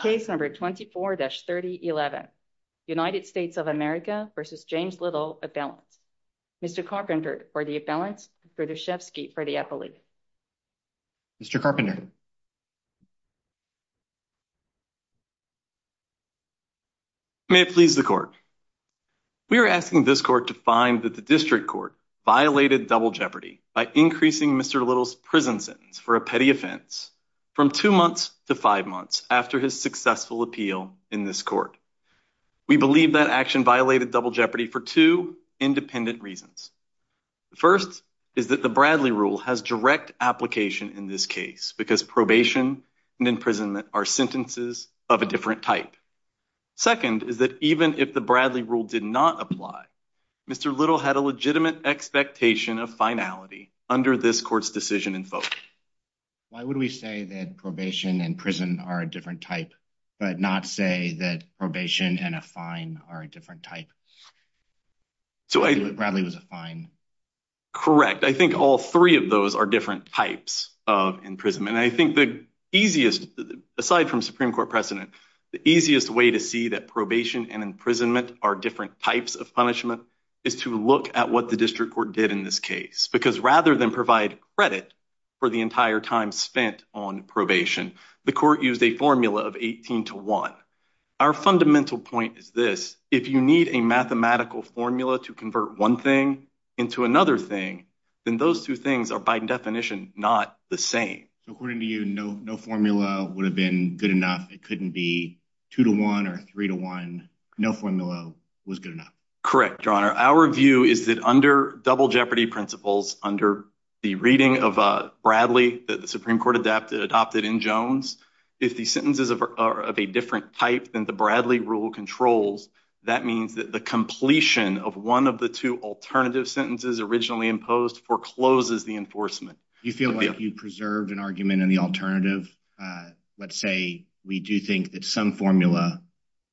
case number 24-3011. United States of America v. James Little, a balance. Mr. Carpenter for the balance, Brzezewski for the affiliate. Mr. Carpenter. May it please the court. We are asking this court to find that the district court violated double jeopardy by increasing Mr. Little's prison sentence for a petty offense from two months to five months after his successful appeal in this court. We believe that action violated double jeopardy for two independent reasons. First is that the Bradley rule has direct application in this case because probation and imprisonment are sentences of a different type. Second is that even if the Bradley rule did not apply, Mr. Little had a legitimate expectation of finality under this court's decision in Why would we say that probation and prison are a different type but not say that probation and a fine are a different type? So I think Bradley was a fine. Correct. I think all three of those are different types of imprisonment. I think the easiest, aside from Supreme Court precedent, the easiest way to see that probation and imprisonment are different types of punishment is to look at what the district court did in this case because rather than provide credit for the entire time spent on probation, the court used a formula of 18 to 1. Our fundamental point is this. If you need a mathematical formula to convert one thing into another thing, then those two things are by definition not the same. According to you, no formula would have been good enough. It couldn't be 2 to 1 or 3 to 1. No formula was good enough. Correct, Your Honor. Our view is that under double jeopardy principles, under the reading of Bradley that the Supreme Court adopted in Jones, if the sentences of a different type than the Bradley rule controls, that means that the completion of one of the two alternative sentences originally imposed forecloses the enforcement. You feel like you preserved an argument in the alternative. Let's say we do think that some formula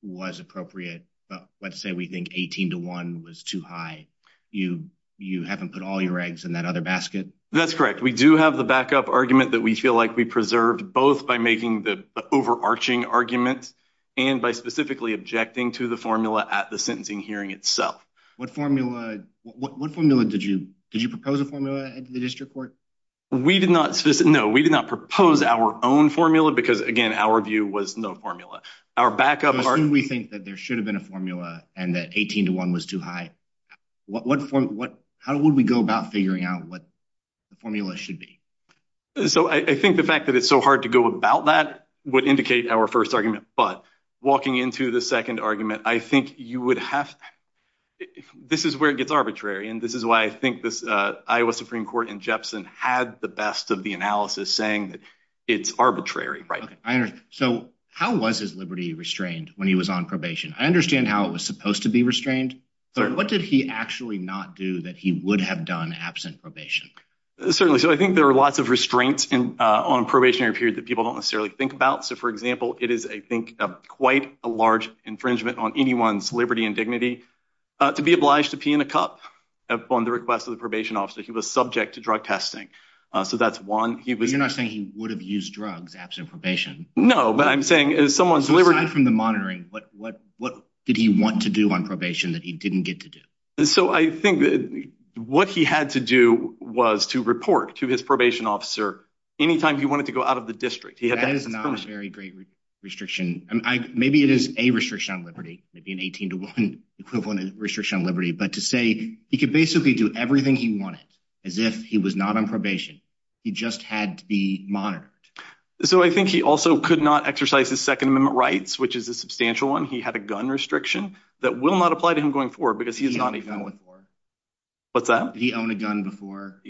was appropriate. But let's say we think 18 to 1 was too high. You you haven't put all your eggs in that other basket. That's correct. We do have the backup argument that we feel like we preserved both by making the overarching argument and by specifically objecting to the formula at the sentencing hearing itself. What formula? What formula did you did you propose a formula at the district court? We did not. No, we did not propose our own formula because again, our view was no formula. Our backup. We think that there should have been a formula and that 18 to 1 was too high. What? How would we go about figuring out what the formula should be? So I think the fact that it's so hard to go about that would indicate our first argument. But walking into the second argument, I think you would have. This is where it gets arbitrary. And this is why I think this Iowa Supreme Court in Jepson had the best of the analysis saying that it's arbitrary, right? So how was his liberty restrained when he was on probation? I understand how it was supposed to be restrained. But what did he actually not do that he would have done absent probation? Certainly. So I think there are lots of restraints on probationary period that people don't necessarily think about. So, for example, it is, I think, quite a large infringement on anyone's liberty and dignity to be obliged to pee in a cup upon the request of the probation officer. He was subject to drug testing. Eso. That's one. You're not saying he would have used drugs absent probation. No, but I'm saying is someone's delivery from the monitoring. But what? What did he want to do on probation that he didn't get to do? So I think that what he had to do was to report to his probation officer any time he wanted to go out of the district. He is not very great restriction. Maybe it is a restriction on liberty. Maybe an 18 to 1 equivalent restriction on liberty. But to say he could basically do everything he wanted as if he was not on probation. He just had to be monitored. So I think he also could not exercise his Second Amendment rights, which is a substantial one. He had a gun restriction that will not apply to him going forward because he is not a gun before. What's that? He owned a gun before.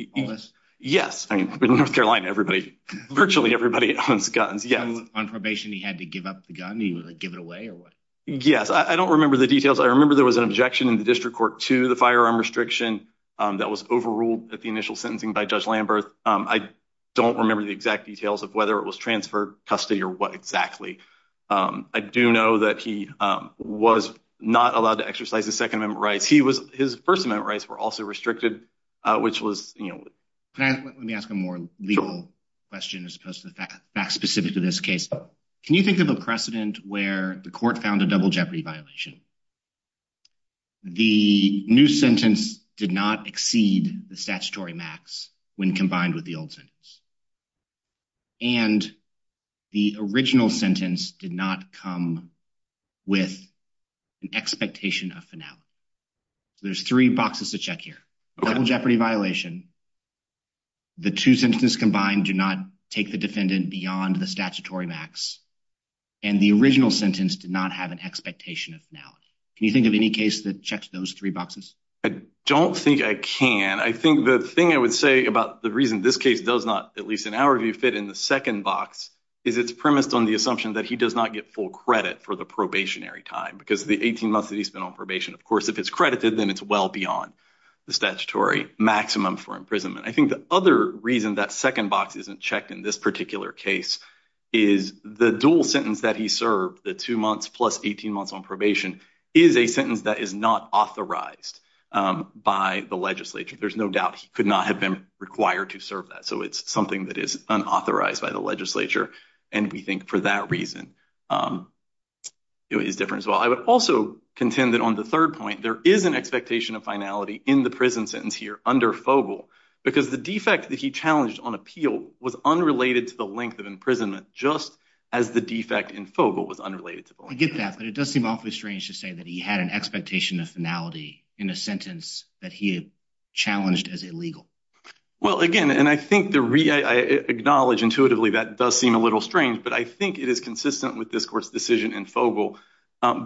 Yes. I mean, North Carolina, everybody, virtually everybody owns guns. Yes. On probation, he had to give up the gun. He would give it away or what? Yes. I don't remember the details. I remember there was an objection in the district court to the firearm restriction that was overruled at the initial sentencing by Judge Lambert. I don't remember the exact details of whether it was transferred custody or what exactly. Um, I do know that he was not allowed to exercise the Second Amendment rights. He was his first amendment rights were also restricted, which was, you know, let me ask a more legal question as opposed to the fact specific to this case. Can you think of a precedent where the court found a double jeopardy violation? The new sentence did not exceed the statutory max when combined with the old sentence. And the original sentence did not come with an expectation of finale. There's three boxes to check here. Double jeopardy violation. The two sentences combined do not take the defendant beyond the statutory max. And the original sentence did not have an expectation of now. Can you think of any case that checks those three boxes? I don't think I can. I think the thing I would say about the reason this case does not, at least in our view, fit in the second box is it's premised on the assumption that he does not get full credit for the probationary time because the 18 months that he spent on probation, of course, if it's credited, then it's well beyond the statutory maximum for imprisonment. I think the other reason that second box isn't checked in this particular case is the dual sentence that he served, the two months plus 18 months on probation, is a sentence that is not authorized by the legislature. There's no doubt he could not have been required to serve that. So it's something that is unauthorized by the legislature. And we think for that reason it is different as well. I would also contend that on the third point there is an expectation of finality in the prison sentence here under Fogel because the defect that he challenged on appeal was unrelated to the length of imprisonment just as the defect in Fogel was unrelated to the length. I get that, but it does seem awfully strange to say that he had an expectation of finality in a sentence that he had challenged as illegal. Well, again, and I think the, I acknowledge intuitively that does seem a little strange, but I think it is consistent with this court's decision in Fogel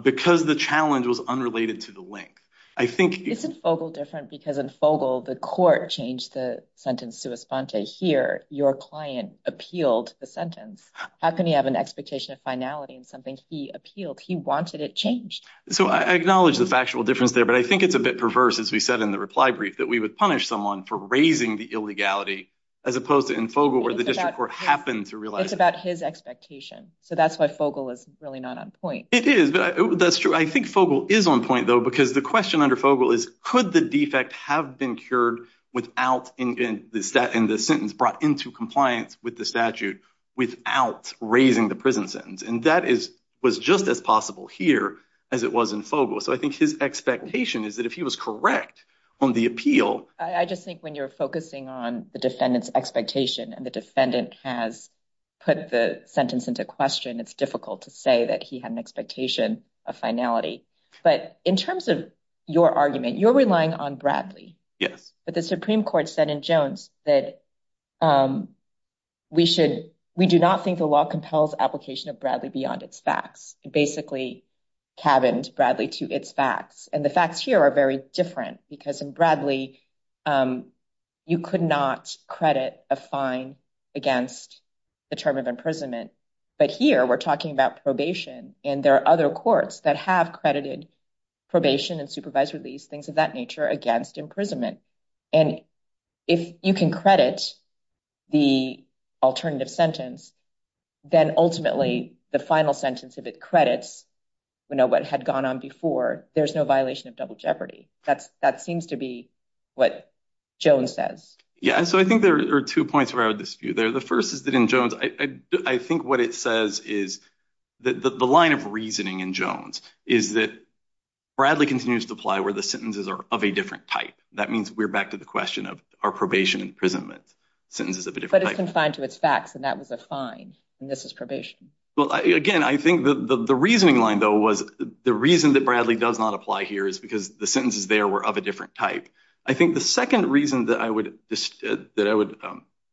because the challenge was unrelated to the length. I think, isn't Fogel different because in Fogel the court changed the sentence sua sponte here. Your client appealed the sentence. How can you have an expectation of finality in something he appealed? He wanted it changed. So I acknowledge the factual difference there, but I think it's a bit perverse, as we said in the reply brief, that we would punish someone for raising the illegality as opposed to in Fogel where the district court happened to realize. It's about his expectation, so that's why Fogel is really not on point. It is, but that's true. I think Fogel is on point, though, because the question under Fogel is could the defect have been cured without in the sentence brought into compliance with the statute without raising the prison sentence? And that is was just as possible here as it was in Fogel. So I think his expectation is that if he was correct on the appeal, I just think when you're focusing on the defendant's expectation and the defendant has put the sentence into question, it's difficult to say that he had an expectation of finality. But in terms of your argument, you're relying on Bradley. Yes. But the Supreme Court said in Jones that we should we do not think the law compels application of Bradley beyond its facts. It basically cabins Bradley to its facts, and the facts here are very different because in Bradley you could not credit a fine against the term of imprisonment, but here we're talking about probation and there are other courts that have credited probation and supervised release, things of that nature, against imprisonment. And if you can credit the alternative sentence, then ultimately the final sentence if it credits, you know, what had gone on before, there's no violation of double jeopardy. That seems to be what Jones says. Yeah, so I think there are two points where I would dispute there. The first is that in Jones, I think what it says is that the line of reasoning in Jones is that Bradley continues to apply where the sentences are of a different type. That means we're back to the question of our probation and imprisonment sentences of a different type. But it's confined to its facts and that was a fine, and this is probation. Well, again, I think that the reasoning line, though, was the reason that Bradley does not apply here is because the sentences there were of a different type. I think the second reason that I would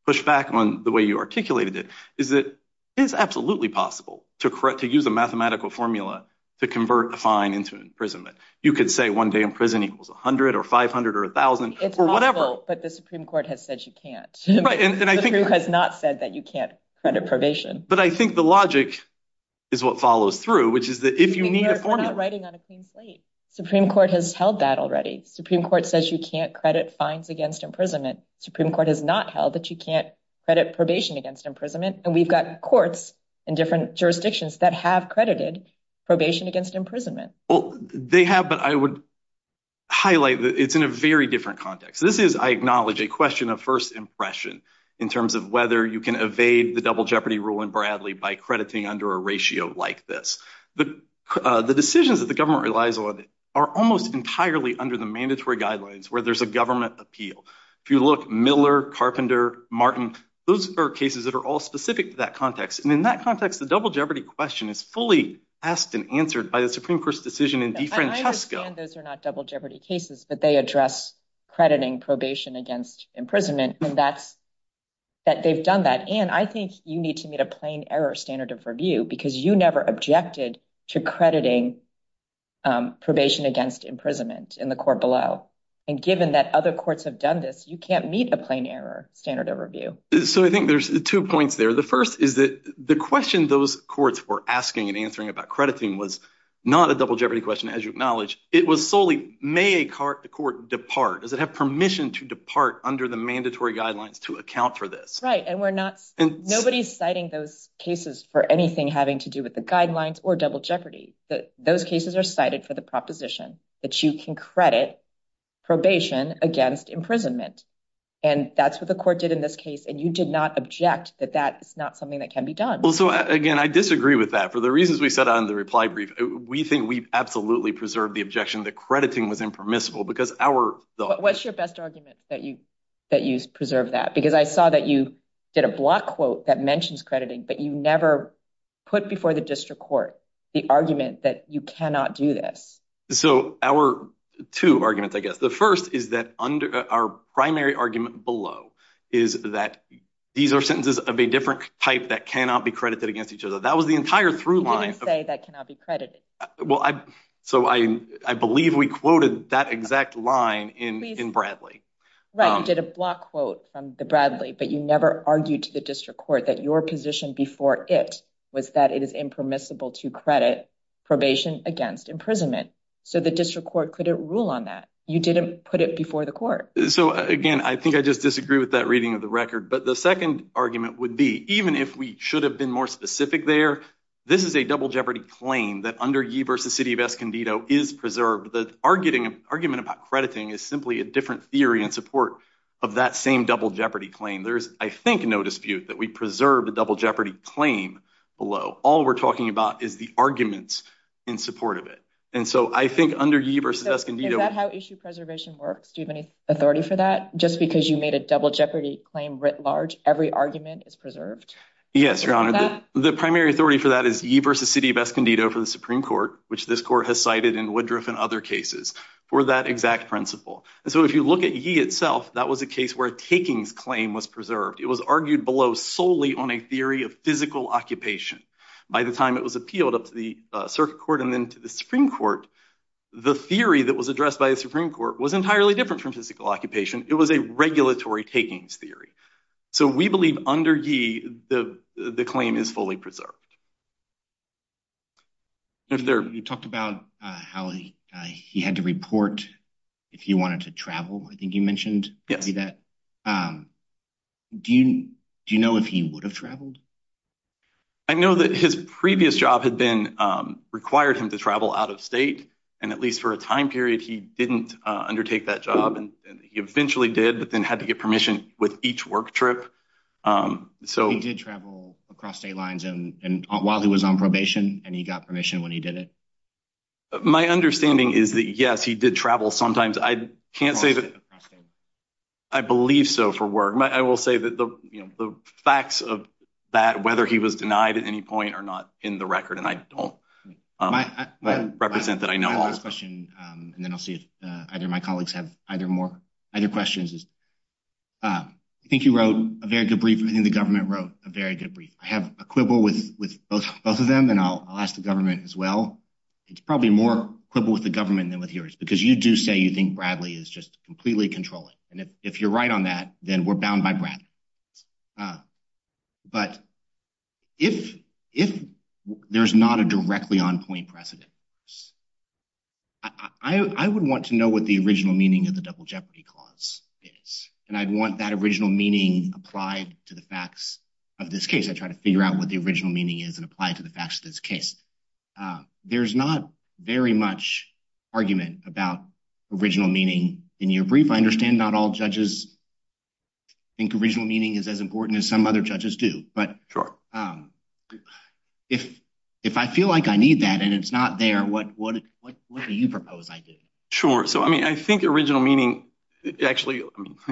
push back on the way you articulated it is that it is absolutely possible to use a mathematical formula to convert a fine into imprisonment. You could say one day in prison equals a hundred or five hundred or a thousand or whatever. But the Supreme Court has said you can't. The Supreme Court has not said that you can't credit probation. But I think the logic is what follows through, which is that if you need a formula. Supreme Court has held that already. Supreme Court says you can't credit fines against imprisonment. Supreme Court has not held that you can't credit probation against imprisonment. And we've got courts in different jurisdictions that have credited probation against imprisonment. Well, they have, but I would highlight that it's in a very different context. This is, I acknowledge, a question of first impression in terms of whether you can evade the double jeopardy rule in Bradley by crediting under a ratio like this. The decisions that the government relies on are almost entirely under the mandatory guidelines where there's a government appeal. If you look, Miller, Carpenter, Martin, those are cases that are all specific to that context. And in that context, the double jeopardy question is fully asked and answered by the Supreme Court's decision in DeFrancesco. I understand those are not double jeopardy cases, but they address crediting probation against imprisonment. And that's that they've done that. And I think you need to meet a plain error standard of review because you never objected to crediting probation against imprisonment in the court below. And given that other courts have done this, you can't meet a plain error standard of review. So I think there's two points there. The first is that the question those courts were asking and answering about crediting was not a double jeopardy question, as you acknowledge. It was solely, may a court depart? Does it have permission to depart under the mandatory guidelines to account for this? Right, and we're not, nobody's citing those cases for anything having to do with the guidelines or double jeopardy. Those cases are cited for the proposition that you can credit probation against imprisonment. And that's what the court did in this case. And you did not object that that is not something that can be done. Well, so again, I disagree with that. For the reasons we set out in the reply brief, we think we've absolutely preserved the objection that crediting was impermissible because our... What's your best argument that you preserved that? Because I saw that you did a block quote that mentions crediting, but you never put before the district court the argument that you cannot do this. So our two arguments, I guess. The first is that our primary argument below is that these are sentences of a different type that cannot be credited against each other. That was the entire through line. You didn't say that cannot be credited. Well, so I believe we quoted that exact line in Bradley. Right, you did a block quote from the Bradley, but you never argued to the district court that your position before it was that it is impermissible to credit probation against imprisonment. So the district court couldn't rule on that. You didn't put it before the court. So again, I think I just disagree with that reading of the record. But the second argument would be, even if we should have been more specific there, this is a double jeopardy claim that under Yee versus City of Escondido is preserved. The argument about crediting is simply a different theory in support of that same double jeopardy claim. There's, I think, no dispute that we preserved a double jeopardy claim below. All we're talking about is the arguments in support of it. And so I think under Is that how issue preservation works? Do you have any authority for that? Just because you made a double jeopardy claim writ large, every argument is preserved? Yes, Your Honor. The primary authority for that is Yee versus City of Escondido for the Supreme Court, which this court has cited in Woodruff and other cases for that exact principle. And so if you look at Yee itself, that was a case where a takings claim was preserved. It was argued below solely on a theory of physical occupation. By the time it was appealed up to the circuit court and then to the Supreme Court, the theory that was addressed by the Supreme Court was entirely different from physical occupation. It was a regulatory takings theory. So we believe under Yee, the claim is fully preserved. You talked about how he had to report if you wanted to travel. I think you mentioned that. Do you know if he would have traveled? I know that his previous job had been required him to travel out of state, and at least for a time period, he didn't undertake that job. And he eventually did, but then had to get permission with each work trip. So he did travel across state lines and while he was on probation, and he got permission when he did it. My understanding is that yes, he did travel sometimes. I can't say that I believe so for work. I will say that the facts of that, whether he was denied at any point or not in the record, and I don't represent that. I know this question, and then I'll see if either my colleagues have either more either questions. I think you wrote a very good brief. I think the government wrote a very good brief. I have a quibble with both of them, and I'll ask the government as well. It's probably more quibble with the government than with yours, because you do say you think Bradley is just completely controlling. And if you're right on that, then we're bound by Brad. But if there's not a directly on point precedent, I would want to know what the original meaning of the Double Jeopardy Clause is, and I'd want that original meaning applied to the facts of this case. I try to figure out what the original meaning is and apply it to the facts of this case. There's not very much argument about original meaning in your brief. I understand not all judges think original meaning is as important as some other judges do, but if I feel like I need that and it's not there, what do you propose I do? Sure. I think original meaning... Actually,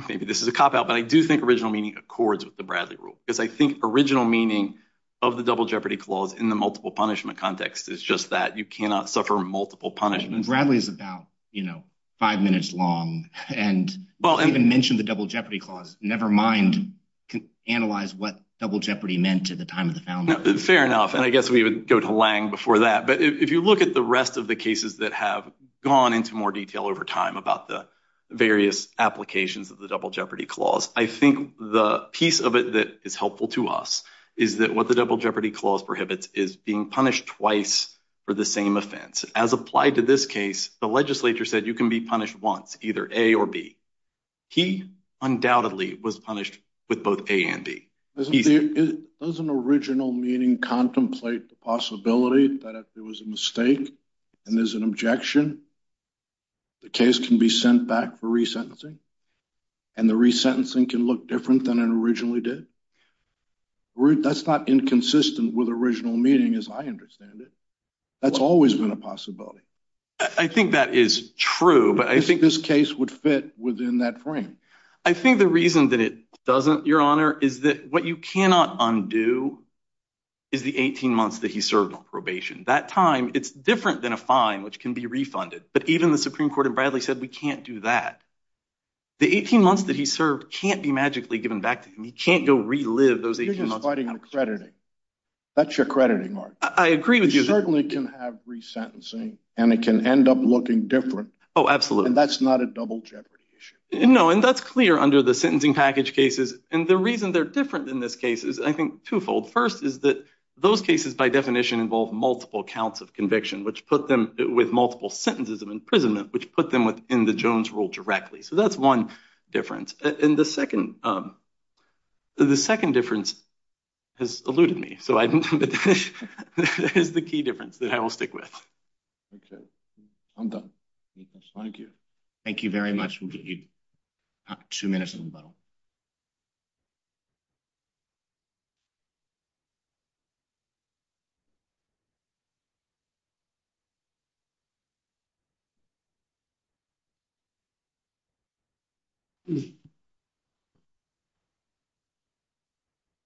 maybe this is a cop out, but I do think original meaning accords with the Bradley Rule, because I think original meaning of the Double Jeopardy Clause in the multiple punishment context is just that you cannot suffer multiple punishments. Bradley is about five minutes long, and you even mentioned the Double Jeopardy Clause, never mind analyze what Double Jeopardy meant at the time of the founding. Fair enough, and I guess we would go to Lange before that. But if you look at the rest of the cases that have gone into more detail over time about the various applications of the Double Jeopardy Clause, I think the piece of it that is helpful to us is that what the Double Jeopardy Clause prohibits is being punished twice for the same offense. As applied to this case, the legislature said you can be punished once, either A or B. He undoubtedly was punished with both A and B. Doesn't original meaning contemplate the possibility that if there was a mistake and there's an objection, the case can be sent back for resentencing, and the resentencing can look different than it originally did? That's not inconsistent with original meaning, as I understand it. That's always been a possibility. I think that is true, but I think this case would fit within that frame. I think the reason that it doesn't, Your Honor, is that what you cannot undo is the 18 months that he served on probation. That time, it's different than a fine, which can be refunded, but even the Supreme Court in Bradley said we can't do that. The 18 months that he served can't be magically given back to him. He can't go relive those 18 months. You're just fighting the crediting. That's your crediting argument. I agree with you. You certainly can have resentencing, and it can end up looking different. Oh, absolutely. And that's not a double jeopardy issue. No, and that's clear under the sentencing package cases. And the reason they're different in this case is, I think, twofold. First is that those cases, by definition, involve multiple counts of conviction, which put them with multiple sentences of imprisonment, which put them within the Jones rule directly. So that's one difference. And the second difference has eluded me, so that is the key difference that I will stick with. Okay, I'm done. Thank you. Thank you very much. We'll give you two minutes on the button.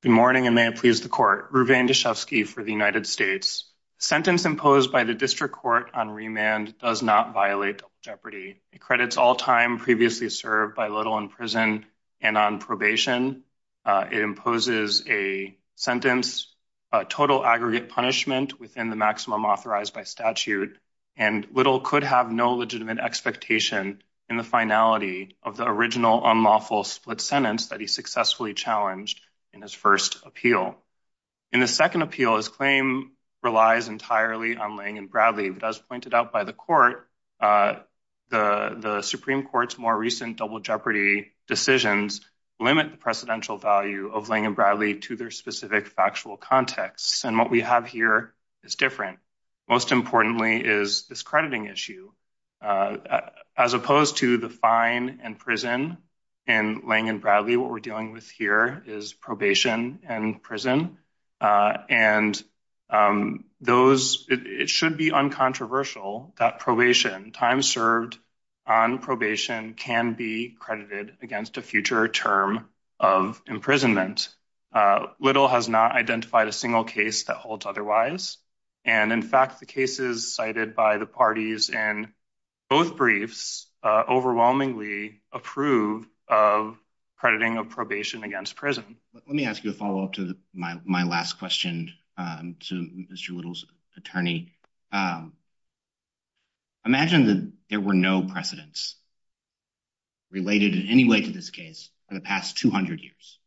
Good morning, and may it please the court. Ruvane Deshevsky for the United States. Sentence imposed by the district court on remand does not violate jeopardy. It credits all time previously served by Little in prison and on probation. It imposes a sentence, a total aggregate punishment within the maximum authorized by statute, and Little could have no legitimate expectation in the finality of the original unlawful split sentence that he successfully challenged in his first appeal. In the second appeal, his claim relies entirely on laying and Bradley does pointed out by the court. Uh, the Supreme Court's more recent double jeopardy decisions limit the precedential value of laying and Bradley to their specific factual context. And what we have here is different. Most importantly, is this crediting issue? Uh, as opposed to the fine and prison and laying in Bradley, what we're dealing with here is probation and prison. Uh, and, um, those it should be uncontroversial that probation time served on probation can be credited against a future term of imprisonment. Uh, little has not identified a single case that holds otherwise. And in fact, the cases cited by the parties and both briefs overwhelmingly approve of crediting of probation against prison. Let me ask you a follow up to my last question to Mr Little's attorney. Um, imagine that there were no precedents related in any way to this case for the past 200 years.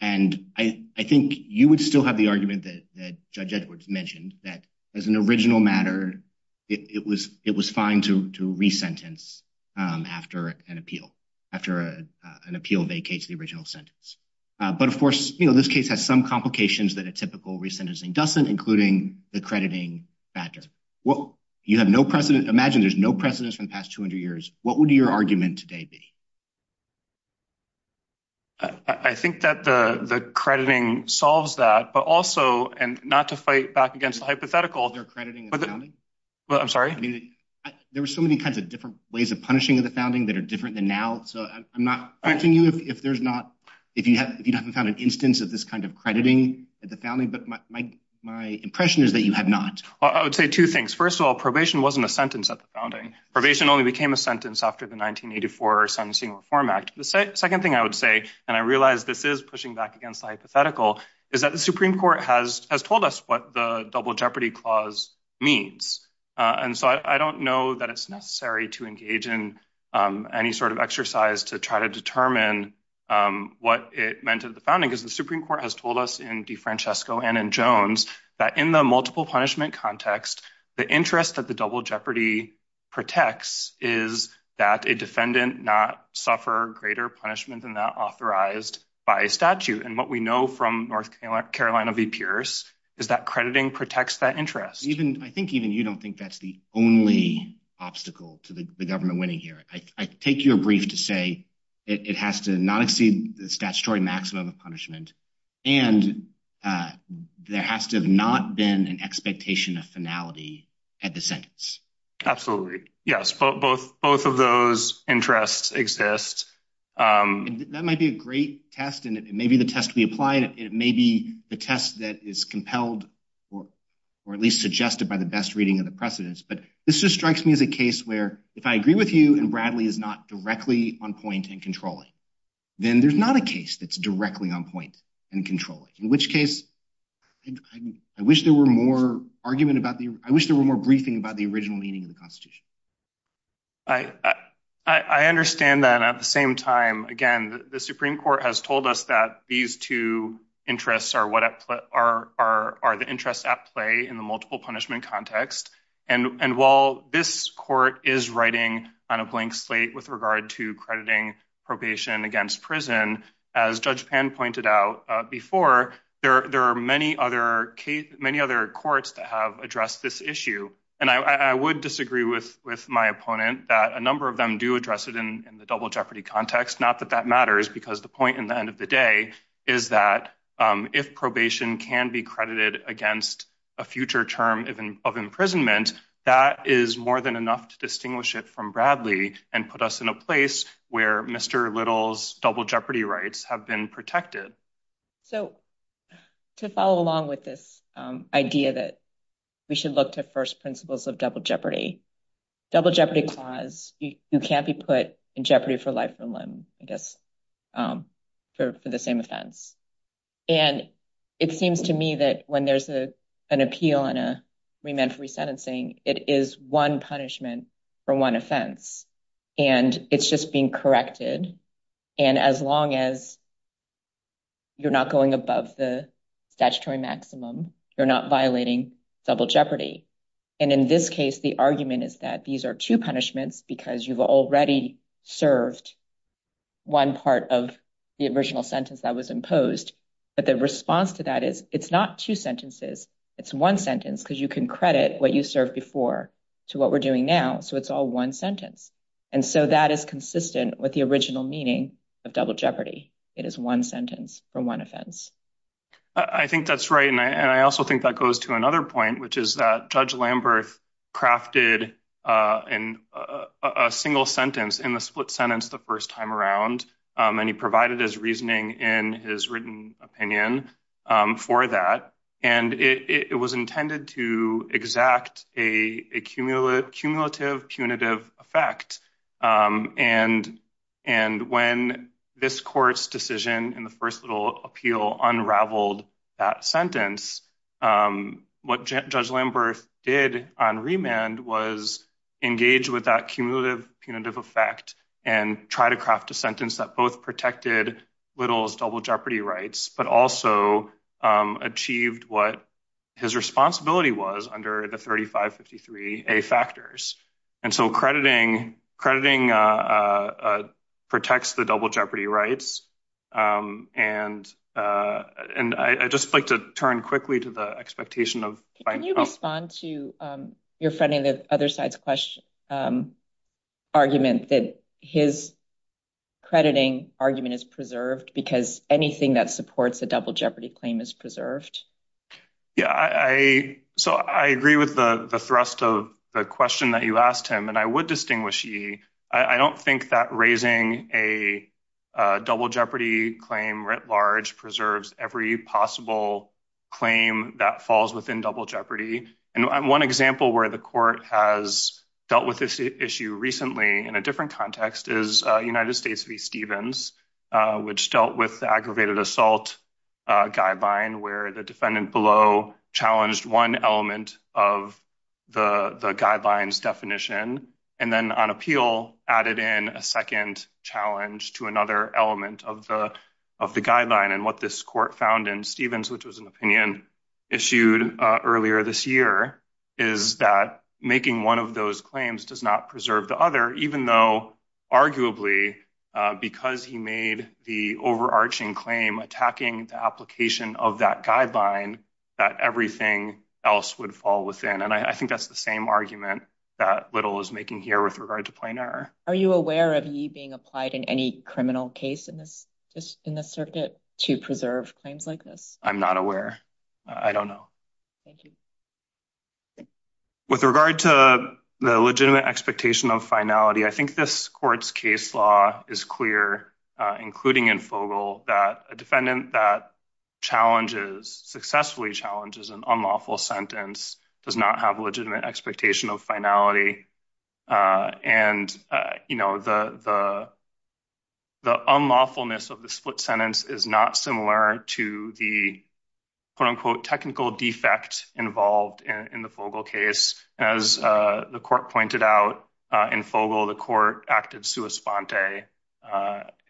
And I think you would still have the argument that Judge Edwards mentioned that as an original matter, it was it was fine to re sentence after an appeal after an appeal vacates the original sentence. But, of course, you know, this case has some complications that a typical recent isn't doesn't, including the crediting factor. Well, you have no precedent. Imagine there's no precedents from past 200 years. What would your argument today be? I think that the crediting solves that, but also and not to fight back against the hypothetical. They're crediting, but I'm sorry. I mean, there were so many kinds of different ways of punishing of the founding that are different than now. So I'm not correcting you if there's not. If you have, if you haven't found an instance of this kind of crediting at the founding, but my my impression is that you have not. I would say two things. First of all, probation wasn't a sentence at the founding. Probation only became a sentence after the 1984 sentencing Reform Act. The second thing I would say, and I realize this is pushing back against hypothetical is that the Supreme Court has has told us what the double jeopardy clause means. And so I don't know that it's necessary to engage in any sort of exercise to try to determine what it meant at the founding is the Supreme Court has told us in DeFrancesco and in Jones that in the multiple punishment context, the interest that the double jeopardy protects is that a defendant not suffer greater punishment than that authorized by statute. And what we know from North Carolina v Pierce is that crediting protects that interest. Even I think even you don't think that's the only obstacle to the government winning here. I take your brief to say it has to not exceed the statutory maximum of punishment. And, uh, there has to have not been an expectation of finality at the sentence. Absolutely. Yes. Both both of those interests exist. Um, that might be a great test, and it may be the test we applied. It may be the test that is compelled or or at least suggested by the best reading of the precedence. But this just strikes me as a case where, if I agree with you and Bradley is not directly on point and controlling, then there's not a case that's directly on point and controlling, in which case I wish there were more argument about the I wish there were more briefing about the original meaning of the Constitution. I I understand that at the same time again, the Supreme Court has told us that these two interests are what are are the interests at play in the multiple punishment context. And while this court is writing on a blank slate with regard to crediting probation against prison, as Judge Pan pointed out before, there are many other many other courts that have addressed this issue, and I would disagree with with my opponent that a number of them do address it in the double jeopardy context. Not that that matters, because the point in the end of the day is that if probation can be credited against a future term of imprisonment, that is more than enough to distinguish it from Bradley and put us in a place where Mr Little's double jeopardy rights have been protected. So to follow along with this idea that we should look to first principles of double jeopardy, double jeopardy clause, you can't be put in jeopardy for life or limb, I guess, for the same offense. And it seems to me that when there's a an appeal on a remand for resentencing, it is one punishment for one offense, and it's just being corrected. And as long as you're not going above the statutory maximum, you're not violating double jeopardy. And in this case, the argument is that these are two punishments because you've already served one part of the original sentence that was imposed. But the response to that is it's not two sentences. It's one sentence because you can credit what you serve before to what we're doing now. So it's all one sentence. And so that is consistent with the original meaning of double jeopardy. It is one sentence from one offense. I think that's right. And I also think that goes to another point, which is that Judge Lambert crafted in a single sentence in the split sentence the first time around, and he provided his reasoning in his written opinion for that. And it was intended to exact a cumulative punitive effect. And when this court's decision in the first little appeal unraveled that sentence, what Judge Lambert did on remand was engaged with that cumulative punitive effect and try to craft a sentence that both protected little's double jeopardy rights, but also achieved what his responsibility was under the 35 53 a factors. And so crediting crediting, uh, protects the double jeopardy rights. Um, and, uh, and I just like to turn quickly to the expectation of finding respond to your friend in the other side's question, um, argument that his crediting argument is preserved because anything that supports the double jeopardy claim is preserved. Yeah, I so I agree with the thrust of the question that you asked him, and I would distinguish. I don't think that raising a double jeopardy claim writ large preserves every possible claim that falls within double jeopardy. And one example where the court has dealt with this issue recently in a different context is United States v. Stevens, which dealt with aggravated assault guideline where the defendant below challenged one element of the guidelines definition and then on appeal added in a second challenge to another element of the of the guideline. And what this court found in Stevens, which was an opinion issued earlier this year, is that making one of those claims does not preserve the other, even though arguably because he made the overarching claim attacking the application of that guideline, that everything else would fall within. And I think that's the same argument that little is making here with regard to plain error. Are you aware of you being applied in any criminal case in this in the circuit to preserve claims like this? I'm not aware. I don't know. Thank With regard to the legitimate expectation of finality, I think this court's case law is clear, including in Fogle, that a defendant that challenges successfully challenges an unlawful sentence does not have a legitimate expectation of finality. And, you know, the the the unlawfulness of the split sentence is not similar to the quote unquote technical defect involved in the case. As the court pointed out in Fogle, the court acted sua sponte,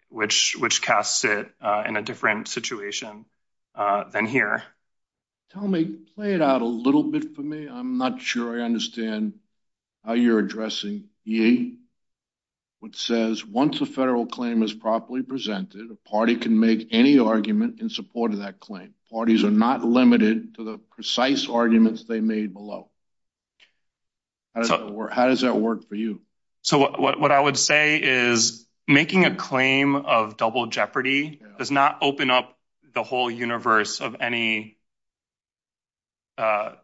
which which casts it in a different situation than here. Tell me, play it out a little bit for me. I'm not sure I understand how you're addressing ye. What says once a federal claim is properly presented, a party can make any argument in support of that claim. Parties are not limited to the precise arguments they made below. How does that work? How does that work for you? So what I would say is making a claim of double jeopardy does not open up the whole universe of any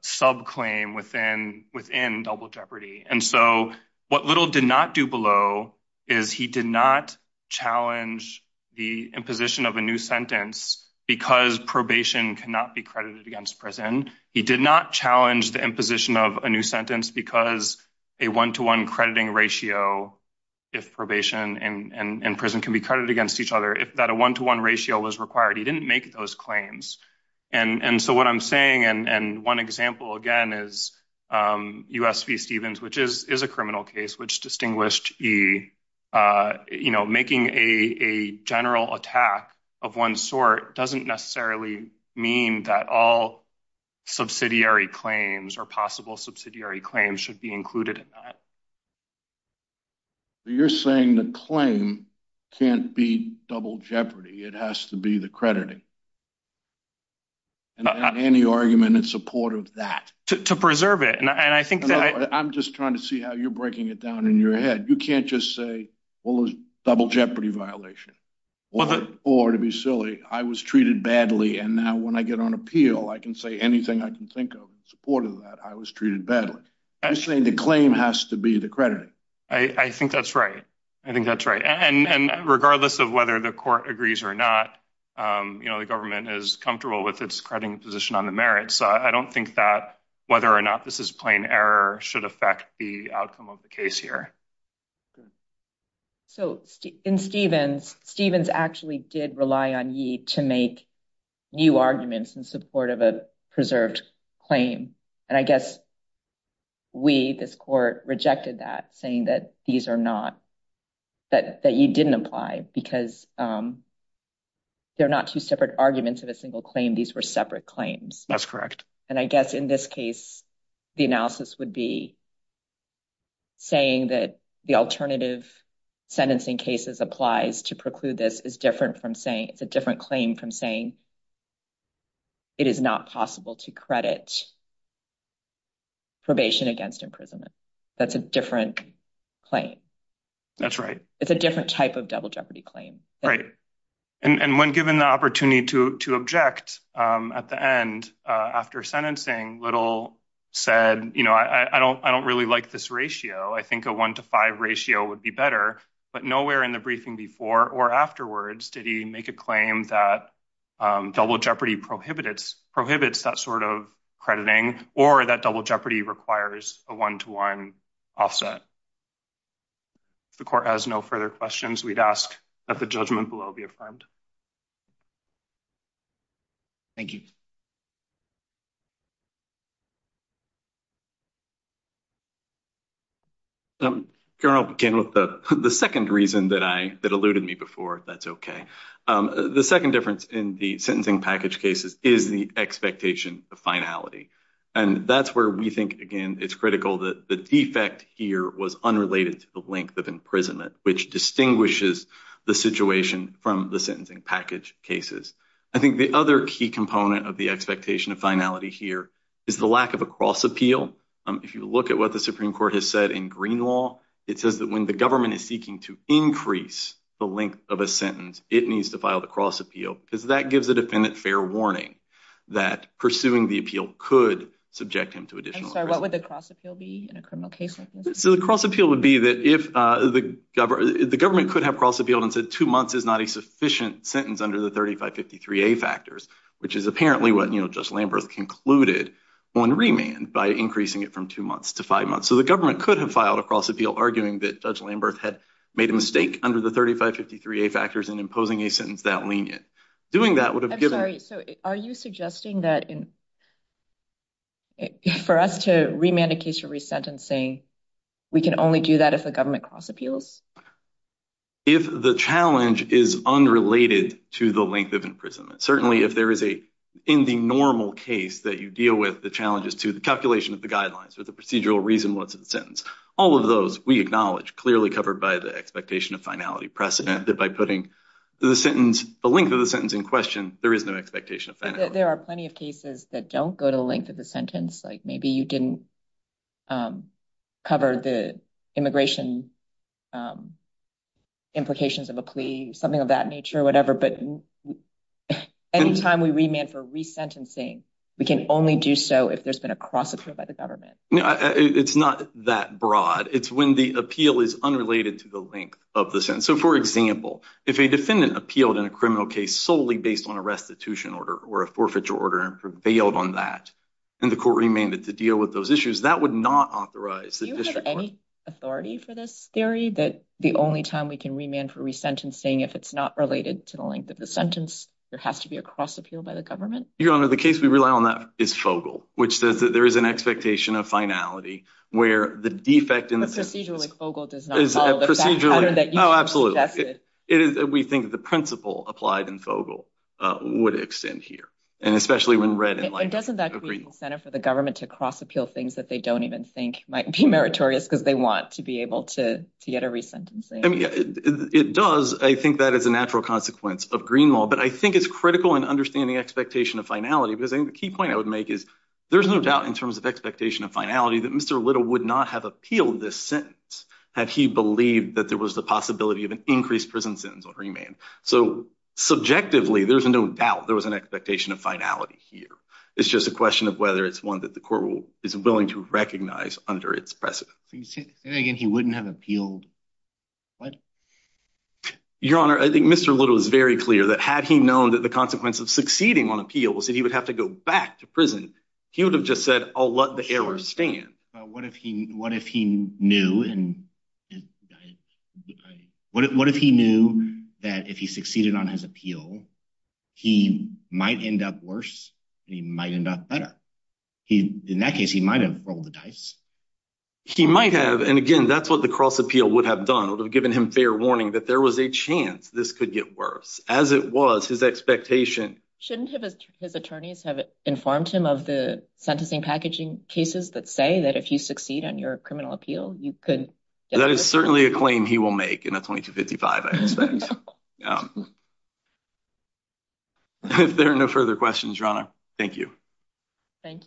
sub claim within within double jeopardy. And so what little did not do below is he did not challenge the imposition of a new sentence because probation cannot be credited against prison. He did not challenge the imposition of a new sentence because a one to one crediting ratio if probation and prison can be credited against each other. If that a one to one ratio was required, he didn't make those claims. And so what I'm saying and one example again is, um, U. S. V. You know, making a general attack of one sort doesn't necessarily mean that all subsidiary claims or possible subsidiary claims should be included in that. You're saying the claim can't be double jeopardy. It has to be the crediting and any argument in support of that to preserve it. And I think that I'm just trying to see how you're breaking it down in your head. You can't just say, well, those double jeopardy violation or to be silly. I was treated badly. And now when I get on appeal, I can say anything I can think of supported that I was treated badly. I'm saying the claim has to be the credit. I think that's right. I think that's right. And regardless of whether the court agrees or not, um, you know, the government is comfortable with its crediting position on the merit. So I don't think that whether or not this is plain error should affect the outcome of the case here. So in Stevens, Stevens actually did rely on you to make new arguments in support of a preserved claim. And I guess we this court rejected that, saying that these are not that you didn't apply because, um, they're not two separate arguments of a single claim. These were separate claims. That's correct. And I guess in this case, the analysis would be saying that the alternative sentencing cases applies to preclude. This is different from saying it's a different claim from saying it is not possible to credit probation against imprisonment. That's a different claim. That's right. It's a different type of double jeopardy claim, right? And when given the opportunity to object at the end after sentencing, little said, You know, I don't I don't really like this ratio. I think a 1 to 5 ratio would be better. But nowhere in the briefing before or afterwards did he make a claim that double jeopardy prohibits prohibits that sort of crediting or that double jeopardy requires a 1 to 1 offset. The court has no further questions. We'd ask that the judgment below be affirmed. Thank you. Um, girl came with the second reason that I that alluded me before. That's okay. The second difference in the sentencing package cases is the expectation of finality. And that's where we think again. It's critical that the defect here was unrelated to the length of imprisonment, which I think the other key component of the expectation of finality here is the lack of a cross appeal. If you look at what the Supreme Court has said in green law, it says that when the government is seeking to increase the length of a sentence, it needs to file the cross appeal because that gives a defendant fair warning that pursuing the appeal could subject him to additional. What would the cross appeal be in a criminal case? So the cross appeal would be that if the government could have cross appealed and said two months is not a sufficient sentence under the 35 53 a factors, which is apparently what, you know, just Lambert concluded on remand by increasing it from two months to five months. So the government could have filed across appeal, arguing that Judge Lambert had made a mistake under the 35 53 a factors and imposing a sentence that lenient doing that would have given. So are you suggesting that for us to remand a case for resentencing, we can only do that if the government cross appeals. If the challenge is unrelated to the length of imprisonment, certainly if there is a in the normal case that you deal with the challenges to the calculation of the guidelines or the procedural reason, what's in the sentence? All of those we acknowledge clearly covered by the expectation of finality precedent that by putting the sentence the length of the sentence in question, there is no expectation of there are plenty of cases that don't go to the length of the sentence. Like maybe you didn't um, cover the immigration, um, implications of a plea, something of that nature, whatever. But anytime we remain for resentencing, we can only do so if there's been a cross approved by the government. It's not that broad. It's when the appeal is unrelated to the length of the sense. So, for example, if a defendant appealed in a criminal case solely based on a restitution order or a forfeiture order and prevailed on that, and the court remained to deal with those issues that would not authorize any authority for this theory that the only time we can remain for resentencing, if it's not related to the length of the sentence, there has to be a cross appeal by the government. Your Honor, the case we rely on that is Fogle, which says that there is an expectation of finality where the defect in the procedure, like Fogle does is procedurally. Oh, absolutely. It is. We think the principle applied in Fogle would extend here, and especially when red and doesn't that incentive for the government to cross appeal things that they don't even think might be meritorious because they want to be able to get a resentencing. I mean, it does. I think that is a natural consequence of Greenwell. But I think it's critical and understanding expectation of finality because the key point I would make is there's no doubt in terms of expectation of finality that Mr Little would not have appealed this sentence had he believed that there was the possibility of an increased prison sentence or remain. So subjectively, there's no doubt there was an expectation of finality here. It's just a question of whether it's one that the court will is willing to recognize under its precedent. And again, he wouldn't have appealed. What? Your Honor, I think Mr Little is very clear that had he known that the consequence of succeeding on appeal was that he would have to go back to prison. He would have just said, I'll let the error stand. What if he what if he knew and what if he knew that if he succeeded on his appeal, he might end up worse? He might end up better. He in that case, he might have rolled the dice. He might have. And again, that's what the cross appeal would have done would have given him fair warning that there was a chance this could get worse as it was his expectation. Shouldn't have his attorneys have informed him of the sentencing packaging cases that say that if you succeed on your criminal appeal, you could. That is certainly a claim he will make in a 22 55. I expect um if there are no further questions, Rana, thank you. Thank you.